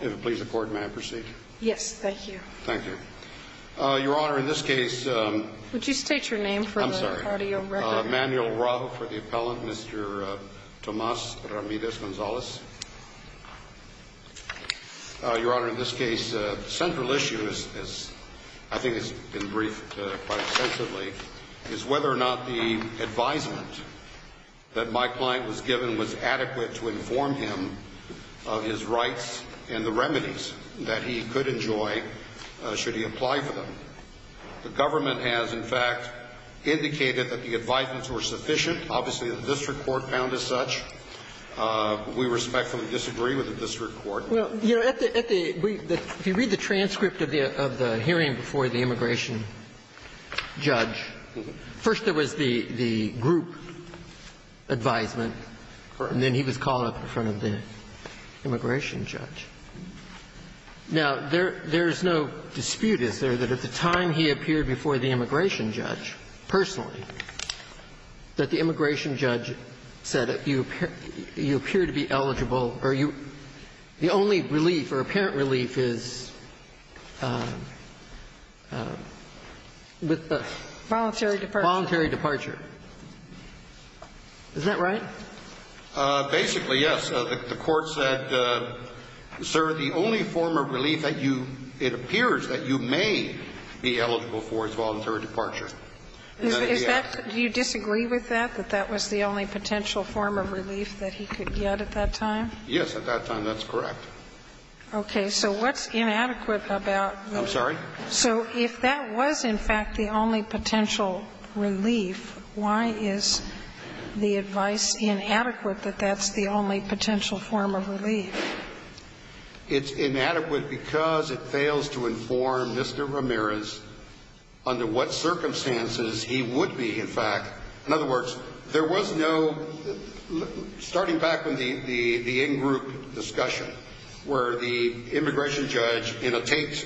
If it pleases the Court, may I proceed? Yes, thank you. Thank you. Your Honor, in this case- Would you state your name for the audio record? Manuel Rao for the appellant. Mr. Tomas Ramirez-Gonzalez. Your Honor, in this case, the central issue is, I think it's been briefed quite extensively, is whether or not the advisement that my client was given was adequate to inform him of his rights and the remedies that he could enjoy should he apply for them. The government has, in fact, indicated that the advisements were sufficient. Obviously, the district court found as such. We respectfully disagree with the district court. Well, you know, at the – if you read the transcript of the hearing before the immigration judge, first there was the group advisement. And then he was called up in front of the immigration judge. Now, there's no dispute, is there, that at the time he appeared before the immigration judge, personally, that the immigration judge said, you appear to be eligible or you – the only relief or apparent relief is with the- Voluntary departure. Voluntary departure. Is that right? Basically, yes. The court said, sir, the only form of relief that you – it appears that you may be eligible for is voluntary departure. Is that – do you disagree with that, that that was the only potential form of relief that he could get at that time? Yes, at that time, that's correct. Okay. So what's inadequate about – I'm sorry? It's inadequate that that's the only potential form of relief. It's inadequate because it fails to inform Mr. Ramirez under what circumstances he would be, in fact – in other words, there was no – starting back with the in-group discussion, where the immigration judge, you know, takes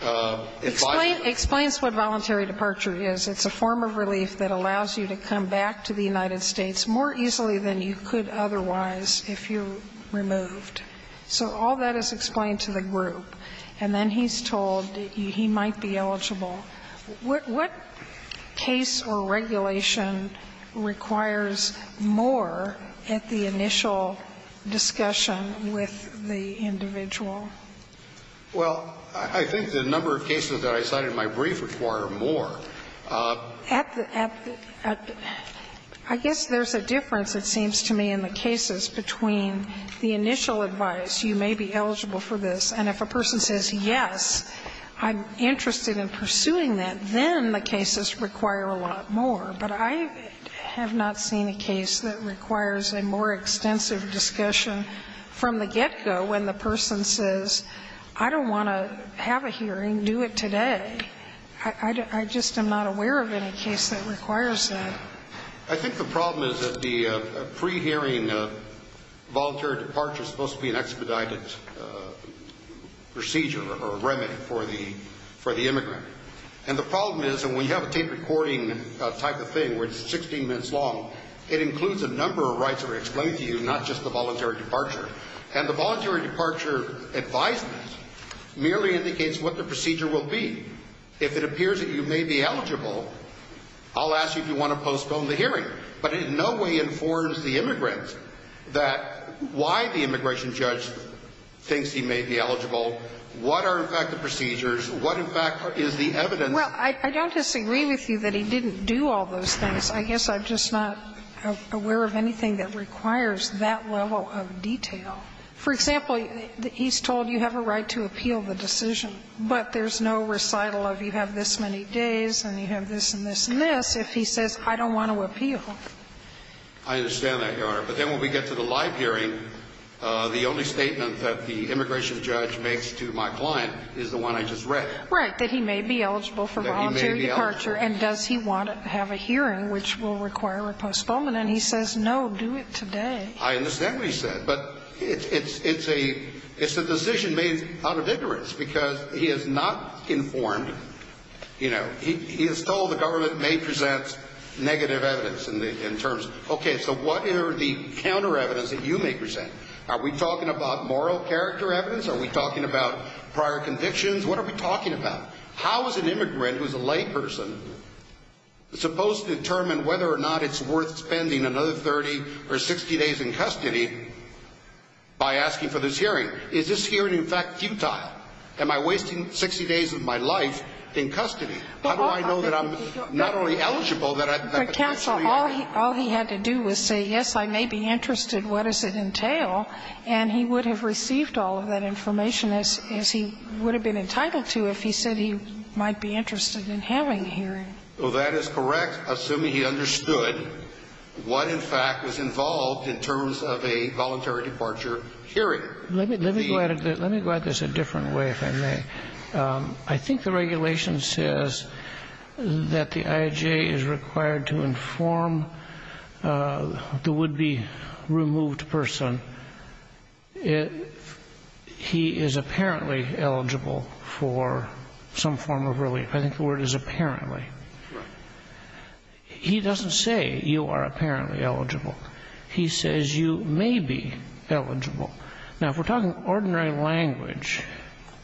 advice. Explain – explain to us what voluntary departure is. It's a form of relief that allows you to come back to the United States more easily than you could otherwise if you're removed. So all that is explained to the group, and then he's told that he might be eligible. What case or regulation requires more at the initial discussion with the individual? Well, I think the number of cases that I cited in my brief require more. At the – I guess there's a difference, it seems to me, in the cases between the initial advice, you may be eligible for this, and if a person says, yes, I'm interested in pursuing that, then the cases require a lot more. But I have not seen a case that requires a more extensive discussion from the get-go when the person says, I don't want to have a hearing, do it today. I just am not aware of any case that requires that. I think the problem is that the pre-hearing voluntary departure is supposed to be an expedited procedure or a remedy for the immigrant. And the problem is that when you have a tape-recording type of thing where it's 16 minutes long, it includes a number of rights that are explained to you, not just the voluntary departure. And the voluntary departure advisement merely indicates what the procedure will be. If it appears that you may be eligible, I'll ask you if you want to postpone the hearing. But it in no way informs the immigrant that why the immigration judge thinks he may be eligible, what are, in fact, the procedures, what, in fact, is the evidence. Well, I don't disagree with you that he didn't do all those things. I guess I'm just not aware of anything that requires that level of detail. For example, he's told you have a right to appeal the decision, but there's no recital of you have this many days and you have this and this and this if he says, I don't want to appeal. I understand that, Your Honor. But then when we get to the live hearing, the only statement that the immigration judge makes to my client is the one I just read. Right. That he may be eligible for voluntary departure. And does he want to have a hearing, which will require a postponement? And he says, no, do it today. I understand what he said. But it's a decision made out of ignorance, because he is not informed, you know. He is told the government may present negative evidence in terms of, okay, so what are the counter evidence that you may present? Are we talking about moral character evidence? Are we talking about prior convictions? What are we talking about? How is an immigrant who is a layperson supposed to determine whether or not it's worth spending another 30 or 60 days in custody by asking for this hearing? Is this hearing, in fact, futile? Am I wasting 60 days of my life in custody? How do I know that I'm not only eligible, that I'm actually eligible? But, counsel, all he had to do was say, yes, I may be interested, what does it entail? And he would have received all of that information, as he would have been entitled to, if he said he might be interested in having a hearing. Well, that is correct, assuming he understood what, in fact, was involved in terms of a voluntary departure hearing. Let me go at this a different way, if I may. I think the regulation says that the IHA is required to inform the would-be or some form of relief. I think the word is apparently. He doesn't say you are apparently eligible. He says you may be eligible. Now, if we're talking ordinary language,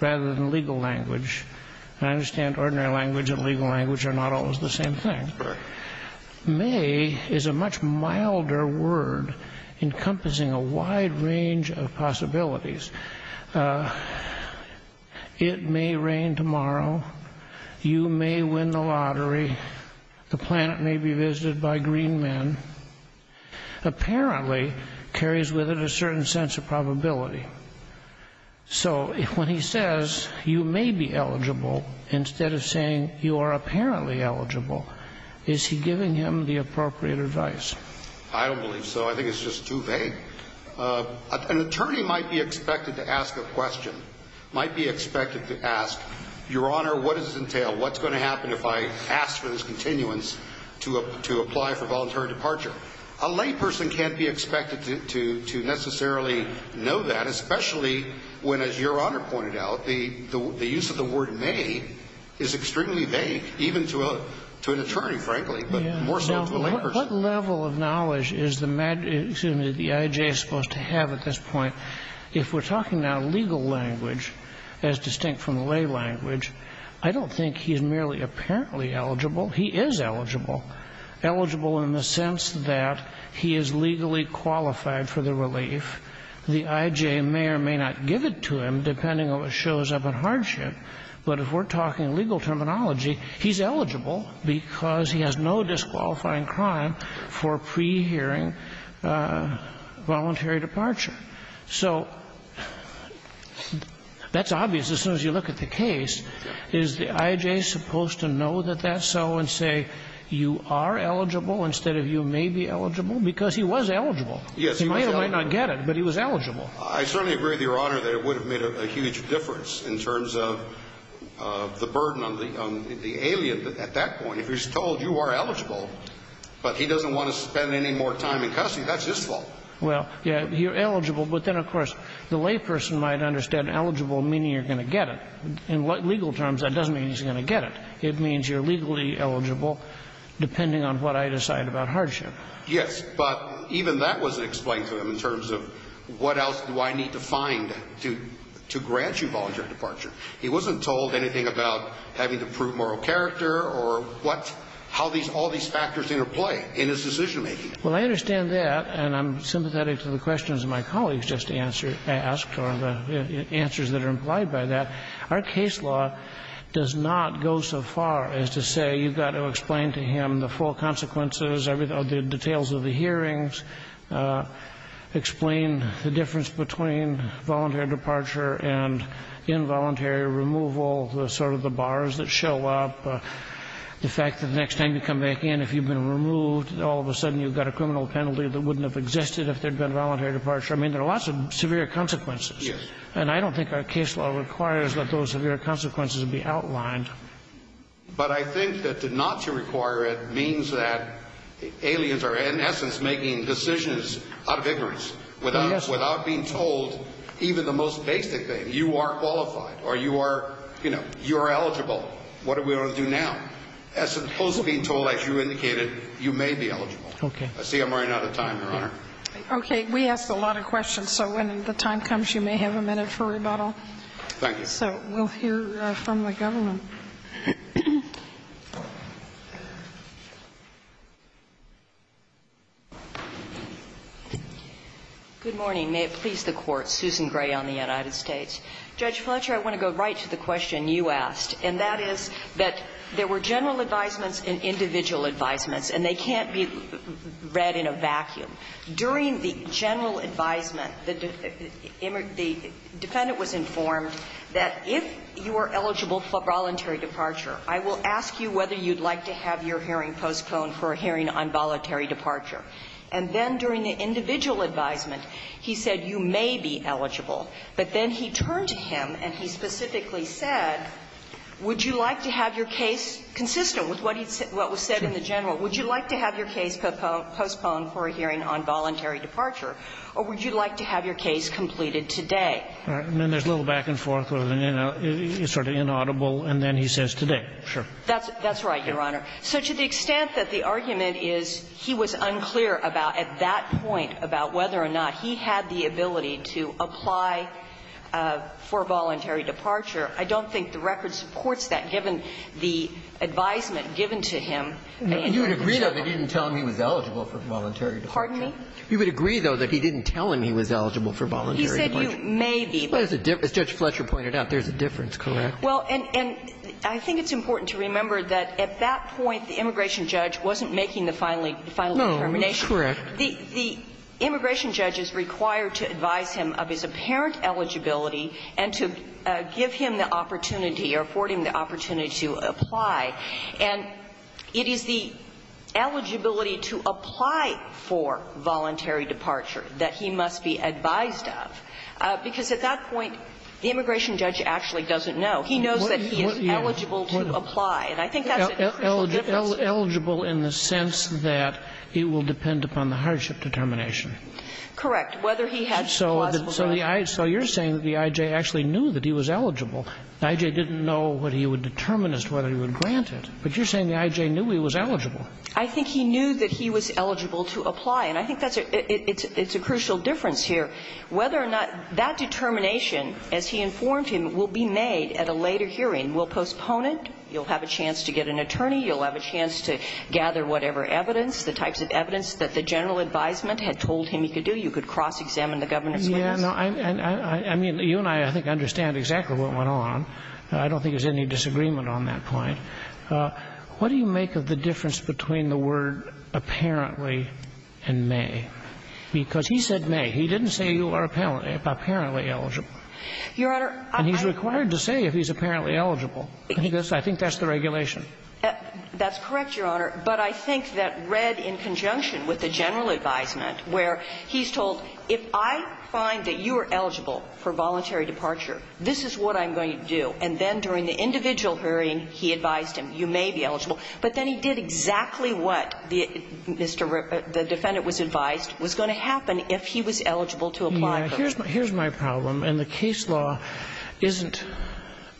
rather than legal language, and I understand ordinary language and legal language are not always the same thing, may is a much milder word, encompassing a wide range of possibilities. It may rain tomorrow. You may win the lottery. The planet may be visited by green men. Apparently carries with it a certain sense of probability. So when he says you may be eligible, instead of saying you are apparently eligible, is he giving him the appropriate advice? I don't believe so. I think it's just too vague. An attorney might be expected to ask a question, might be expected to ask, Your Honor, what does this entail? What's going to happen if I ask for this continuance to apply for voluntary departure? A layperson can't be expected to necessarily know that, especially when, as Your Honor pointed out, the use of the word may is extremely vague, even to an attorney, frankly, but more so to a layperson. What level of knowledge is the I.J. supposed to have at this point? If we're talking now legal language, as distinct from lay language, I don't think he's merely apparently eligible. He is eligible, eligible in the sense that he is legally qualified for the relief. The I.J. may or may not give it to him, depending on what shows up in hardship. But if we're talking legal terminology, he's eligible because he has no disqualifying crime for pre-hearing voluntary departure. So that's obvious as soon as you look at the case. Is the I.J. supposed to know that that's so and say, you are eligible instead of you may be eligible, because he was eligible. He may or may not get it, but he was eligible. I certainly agree with Your Honor that it would have made a huge difference in terms of the burden on the alien at that point. If he's told you are eligible, but he doesn't want to spend any more time in custody, that's his fault. Well, yeah, you're eligible, but then, of course, the layperson might understand eligible meaning you're going to get it. In legal terms, that doesn't mean he's going to get it. It means you're legally eligible, depending on what I decide about hardship. Yes, but even that wasn't explained to him in terms of what else do I need to find to grant you voluntary departure. He wasn't told anything about having to prove moral character or what, how all these factors interplay in his decision making. Well, I understand that, and I'm sympathetic to the questions my colleagues just asked or the answers that are implied by that. Our case law does not go so far as to say, you've got to explain to him the full consequences of the details of the hearings, explain the difference between voluntary departure and involuntary removal, sort of the bars that show up, the fact that the next time you come back in, if you've been removed, all of a sudden you've got a criminal penalty that wouldn't have existed if there'd been voluntary departure. I mean, there are lots of severe consequences. Yes. And I don't think our case law requires that those severe consequences be outlined. But I think that to not to require it means that aliens are, in essence, making decisions out of ignorance without being told even the most basic thing. You are qualified, or you are eligible. What are we going to do now? As opposed to being told, as you indicated, you may be eligible. Okay. I see I'm running out of time, Your Honor. Okay, we asked a lot of questions, so when the time comes, you may have a minute for rebuttal. Thank you. So we'll hear from the government. Good morning. May it please the Court. Susan Gray on the United States. Judge Fletcher, I want to go right to the question you asked, and that is that there were general advisements and individual advisements, and they can't be read in a vacuum. During the general advisement, the defendant was informed that if you are eligible for voluntary departure, I will ask you whether you'd like to have your hearing postponed for a hearing on voluntary departure. And then during the individual advisement, he said you may be eligible. But then he turned to him and he specifically said, would you like to have your case consistent with what was said in the general? Would you like to have your case postponed for a hearing on voluntary departure, or would you like to have your case completed today? And then there's a little back and forth, sort of inaudible, and then he says today. Sure. That's right, Your Honor. So to the extent that the argument is he was unclear about, at that point, about whether or not he had the ability to apply for voluntary departure, I don't think the record supports that, given the advisement given to him. And you would agree, though, that he didn't tell him he was eligible for voluntary departure? Pardon me? You would agree, though, that he didn't tell him he was eligible for voluntary departure? He said you may be, but as Judge Fletcher pointed out, there's a difference, correct? Well, and I think it's important to remember that, at that point, the immigration judge wasn't making the final determination. No, correct. The immigration judge is required to advise him of his apparent eligibility and to give him the opportunity or afford him the opportunity to apply. And it is the eligibility to apply for voluntary departure that he must be advised of, because at that point, the immigration judge actually doesn't know. He knows that he is eligible to apply. And I think that's a crucial difference. Eligible in the sense that it will depend upon the hardship determination? Correct. Whether he has plausible grounds. So you're saying that the I.J. actually knew that he was eligible. The I.J. didn't know what he would determine as to whether he would grant it. But you're saying the I.J. knew he was eligible. I think he knew that he was eligible to apply. And I think that's a – it's a crucial difference here, whether or not that determination, as he informed him, will be made at a later hearing. Will postpone it. You'll have a chance to get an attorney. You'll have a chance to gather whatever evidence, the types of evidence that the general advisement had told him he could do. You could cross-examine the governor's witness. Yeah, no, I mean, you and I, I think, understand exactly what went on. I don't think there's any disagreement on that point. What do you make of the difference between the word apparently and may? Because he said may. He didn't say you are apparently eligible. Your Honor, I – And he's required to say if he's apparently eligible. I think that's the regulation. That's correct, Your Honor. But I think that read in conjunction with the general advisement, where he's told, if I find that you are eligible for voluntary departure, this is what I'm going to do. And then during the individual hearing, he advised him, you may be eligible. But then he did exactly what the defendant was advised was going to happen if he was eligible to apply for it. Yeah. Here's my problem, and the case law isn't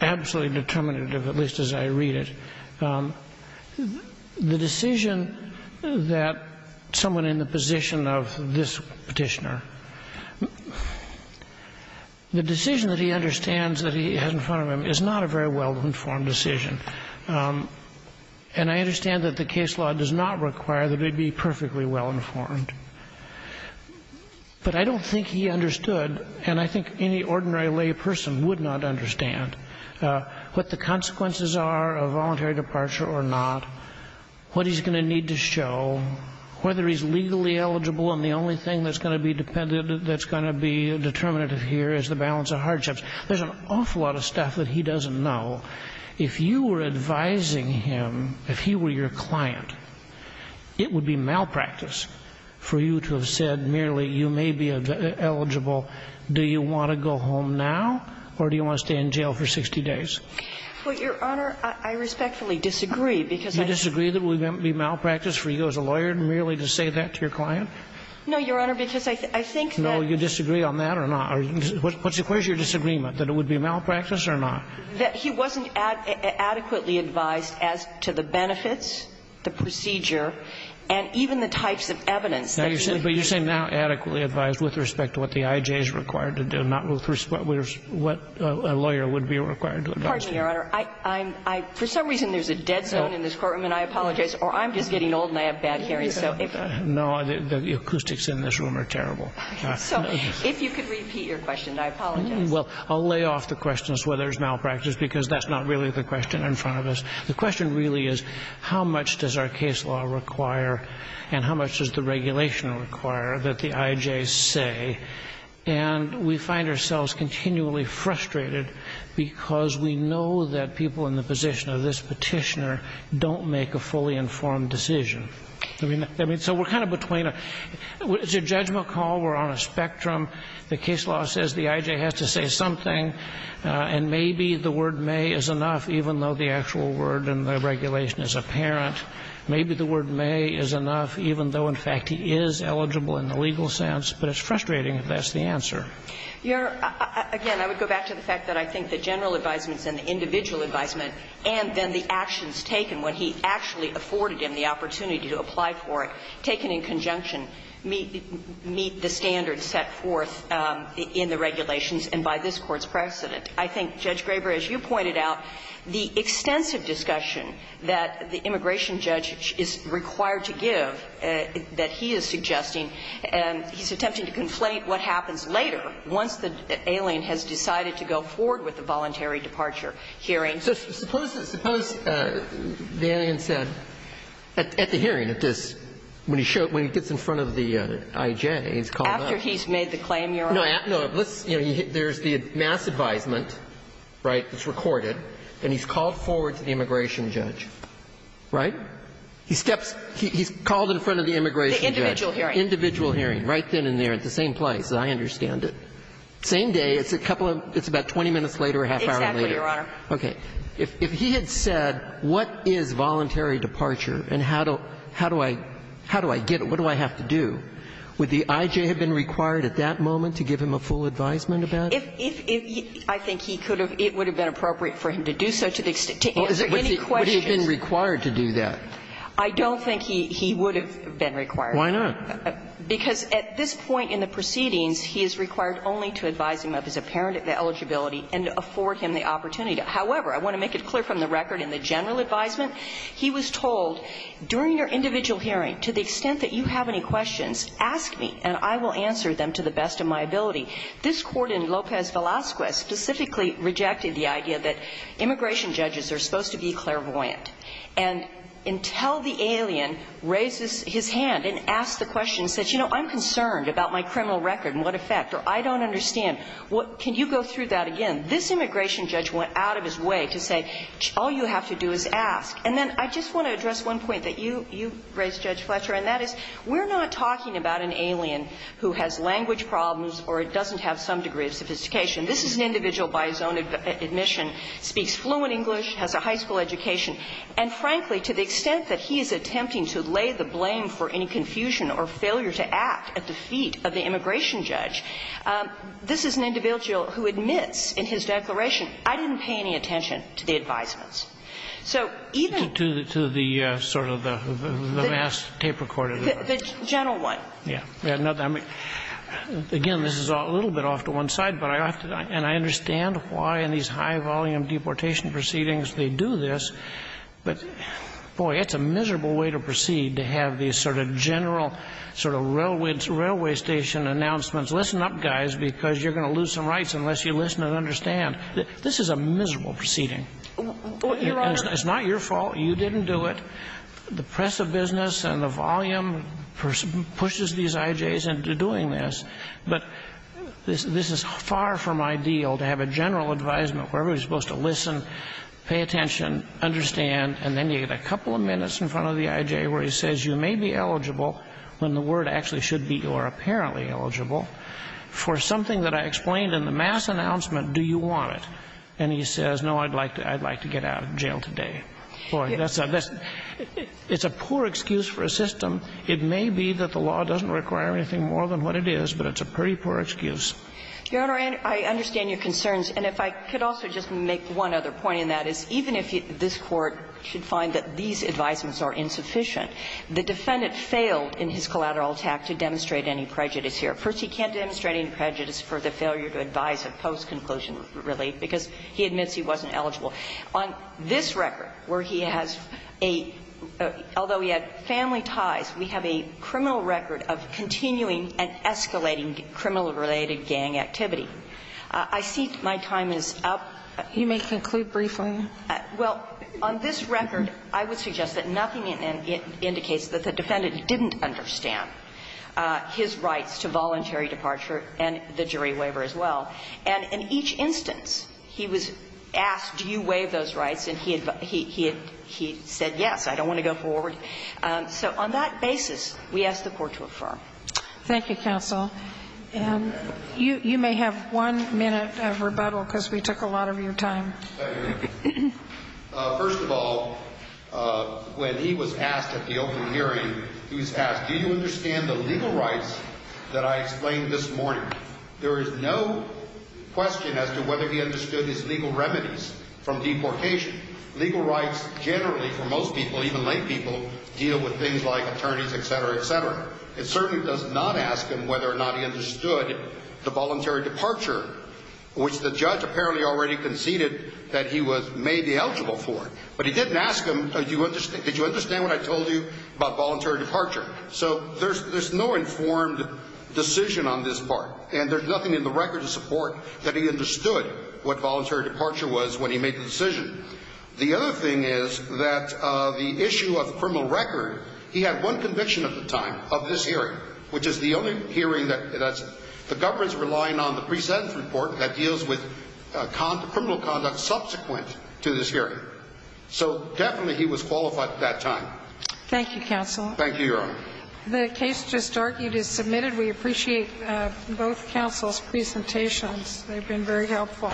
absolutely determinative, at least as I read it. The decision that someone in the position of this Petitioner, the decision that he understands that he has in front of him is not a very well-informed decision. And I understand that the case law does not require that they be perfectly well-informed. But I don't think he understood, and I think any ordinary lay person would not understand, what the consequences are of voluntary departure or not, what he's going to need to show, whether he's legally eligible, and the only thing that's going to be dependent – that's going to be determinative here is the balance of hardships. There's an awful lot of stuff that he doesn't know. If you were advising him, if he were your client, it would be malpractice. For you to have said merely you may be eligible, do you want to go home now, or do you want to stay in jail for 60 days? Well, Your Honor, I respectfully disagree, because I – You disagree that it would be malpractice for you as a lawyer merely to say that to your client? No, Your Honor, because I think that – No, you disagree on that or not? Where's your disagreement, that it would be malpractice or not? That he wasn't adequately advised as to the benefits, the procedure, and even the types of evidence that he would be using. But you're saying now adequately advised with respect to what the IJ is required to do, not with respect to what a lawyer would be required to advise. Pardon me, Your Honor. I'm – for some reason, there's a dead zone in this courtroom, and I apologize, or I'm just getting old and I have bad hearing, so if – No, the acoustics in this room are terrible. So if you could repeat your question, I apologize. Well, I'll lay off the questions where there's malpractice, because that's not really the question in front of us. The question really is how much does our case law require and how much does the regulation require that the IJ say? And we find ourselves continually frustrated because we know that people in the position of this petitioner don't make a fully informed decision. I mean, so we're kind of between a – it's a judgment call. We're on a spectrum. The case law says the IJ has to say something, and maybe the word may is enough, even though the actual word in the regulation is apparent. Maybe the word may is enough, even though, in fact, he is eligible in the legal sense, but it's frustrating if that's the answer. Your – again, I would go back to the fact that I think the general advisements and the individual advisement and then the actions taken when he actually afforded him the opportunity to apply for it, taken in conjunction, meet the standards set forth in the regulations and by this Court's precedent. I think, Judge Graber, as you pointed out, the extensive discussion that the immigration judge is required to give, that he is suggesting, he's attempting to conflate what happens later once the alien has decided to go forward with the voluntary departure hearing. So suppose the alien said at the hearing, at this, when he gets in front of the IJ, he's called up. After he's made the claim, Your Honor. No, let's – there's the mass advisement, right, that's recorded, and he's called forward to the immigration judge, right? He steps – he's called in front of the immigration judge. The individual hearing. The individual hearing, right then and there at the same place, as I understand it. Same day, it's a couple of – it's about 20 minutes later or a half hour later. Exactly, Your Honor. Okay. If he had said what is voluntary departure and how do I get it, what do I have to do, would the IJ have been required at that moment to give him a full advisement about it? If he – I think he could have – it would have been appropriate for him to do so to the extent – to answer any questions. Would he have been required to do that? I don't think he would have been required. Why not? Because at this point in the proceedings, he is required only to advise him of his apparent eligibility and afford him the opportunity to. However, I want to make it clear from the record in the general advisement, he was told, during your individual hearing, to the extent that you have any questions, ask me and I will answer them to the best of my ability. This Court in Lopez Velazquez specifically rejected the idea that immigration judges are supposed to be clairvoyant. And until the alien raises his hand and asks the question and says, you know, I'm concerned about my criminal record and what effect, or I don't understand, can you go through that again, this immigration judge went out of his way to say, all you have to do is ask. And then I just want to address one point that you – you raised, Judge Fletcher, and that is, we're not talking about an alien who has language problems or doesn't have some degree of sophistication. This is an individual by his own admission, speaks fluent English, has a high school education. And frankly, to the extent that he is attempting to lay the blame for any confusion or failure to act at the feet of the immigration judge, this is an individual who admits in his declaration, I didn't pay any attention to the advisements. So even – To the sort of the mass tape recorder. The general one. Yeah. Again, this is a little bit off to one side, but I have to – and I understand why in these high-volume deportation proceedings they do this, but, boy, it's a miserable way to proceed to have these sort of general sort of railway station announcements, listen up, guys, because you're going to lose some rights unless you listen and understand. This is a miserable proceeding. Your Honor – It's not your fault. You didn't do it. The press of business and the volume pushes these IJs into doing this. But this is far from ideal to have a general advisement where everybody is supposed to listen, pay attention, understand, and then you get a couple of minutes in front of the IJ where he says you may be eligible when the word actually should be you are apparently eligible for something that I explained in the mass announcement. Do you want it? And he says, no, I'd like to – I'd like to get out of jail today. Boy, that's a – it's a poor excuse for a system. It may be that the law doesn't require anything more than what it is, but it's a pretty poor excuse. Your Honor, I understand your concerns. And if I could also just make one other point, and that is even if this Court should find that these advisements are insufficient, the defendant failed in his collateral attack to demonstrate any prejudice here. First, he can't demonstrate any prejudice for the failure to advise a post-conclusion relief because he admits he wasn't eligible. On this record, where he has a – although he had family ties, we have a criminal record of continuing and escalating criminal-related gang activity. I see my time is up. You may conclude briefly. Well, on this record, I would suggest that nothing indicates that the defendant didn't understand. His rights to voluntary departure and the jury waiver as well. And in each instance, he was asked, do you waive those rights? And he had – he said yes. I don't want to go forward. So on that basis, we ask the Court to refer. Thank you, counsel. You may have one minute of rebuttal because we took a lot of your time. First of all, when he was asked at the open hearing, he was asked, do you understand the legal rights that I explained this morning? There is no question as to whether he understood his legal remedies from deportation. Legal rights generally for most people, even lay people, deal with things like attorneys, et cetera, et cetera. It certainly does not ask him whether or not he understood the voluntary departure, which the judge apparently already conceded that he was – may be eligible for. But he didn't ask him, did you understand what I told you about voluntary departure? So there's no informed decision on this part, and there's nothing in the record to support that he understood what voluntary departure was when he made the decision. The other thing is that the issue of criminal record, he had one conviction at the time of this hearing, which is the only hearing that – the government's relying on the pre-sentence report that deals with criminal conduct subsequent to this hearing. So definitely he was qualified at that time. Thank you, counsel. Thank you, Your Honor. The case just argued is submitted. We appreciate both counsel's presentations. They've been very helpful.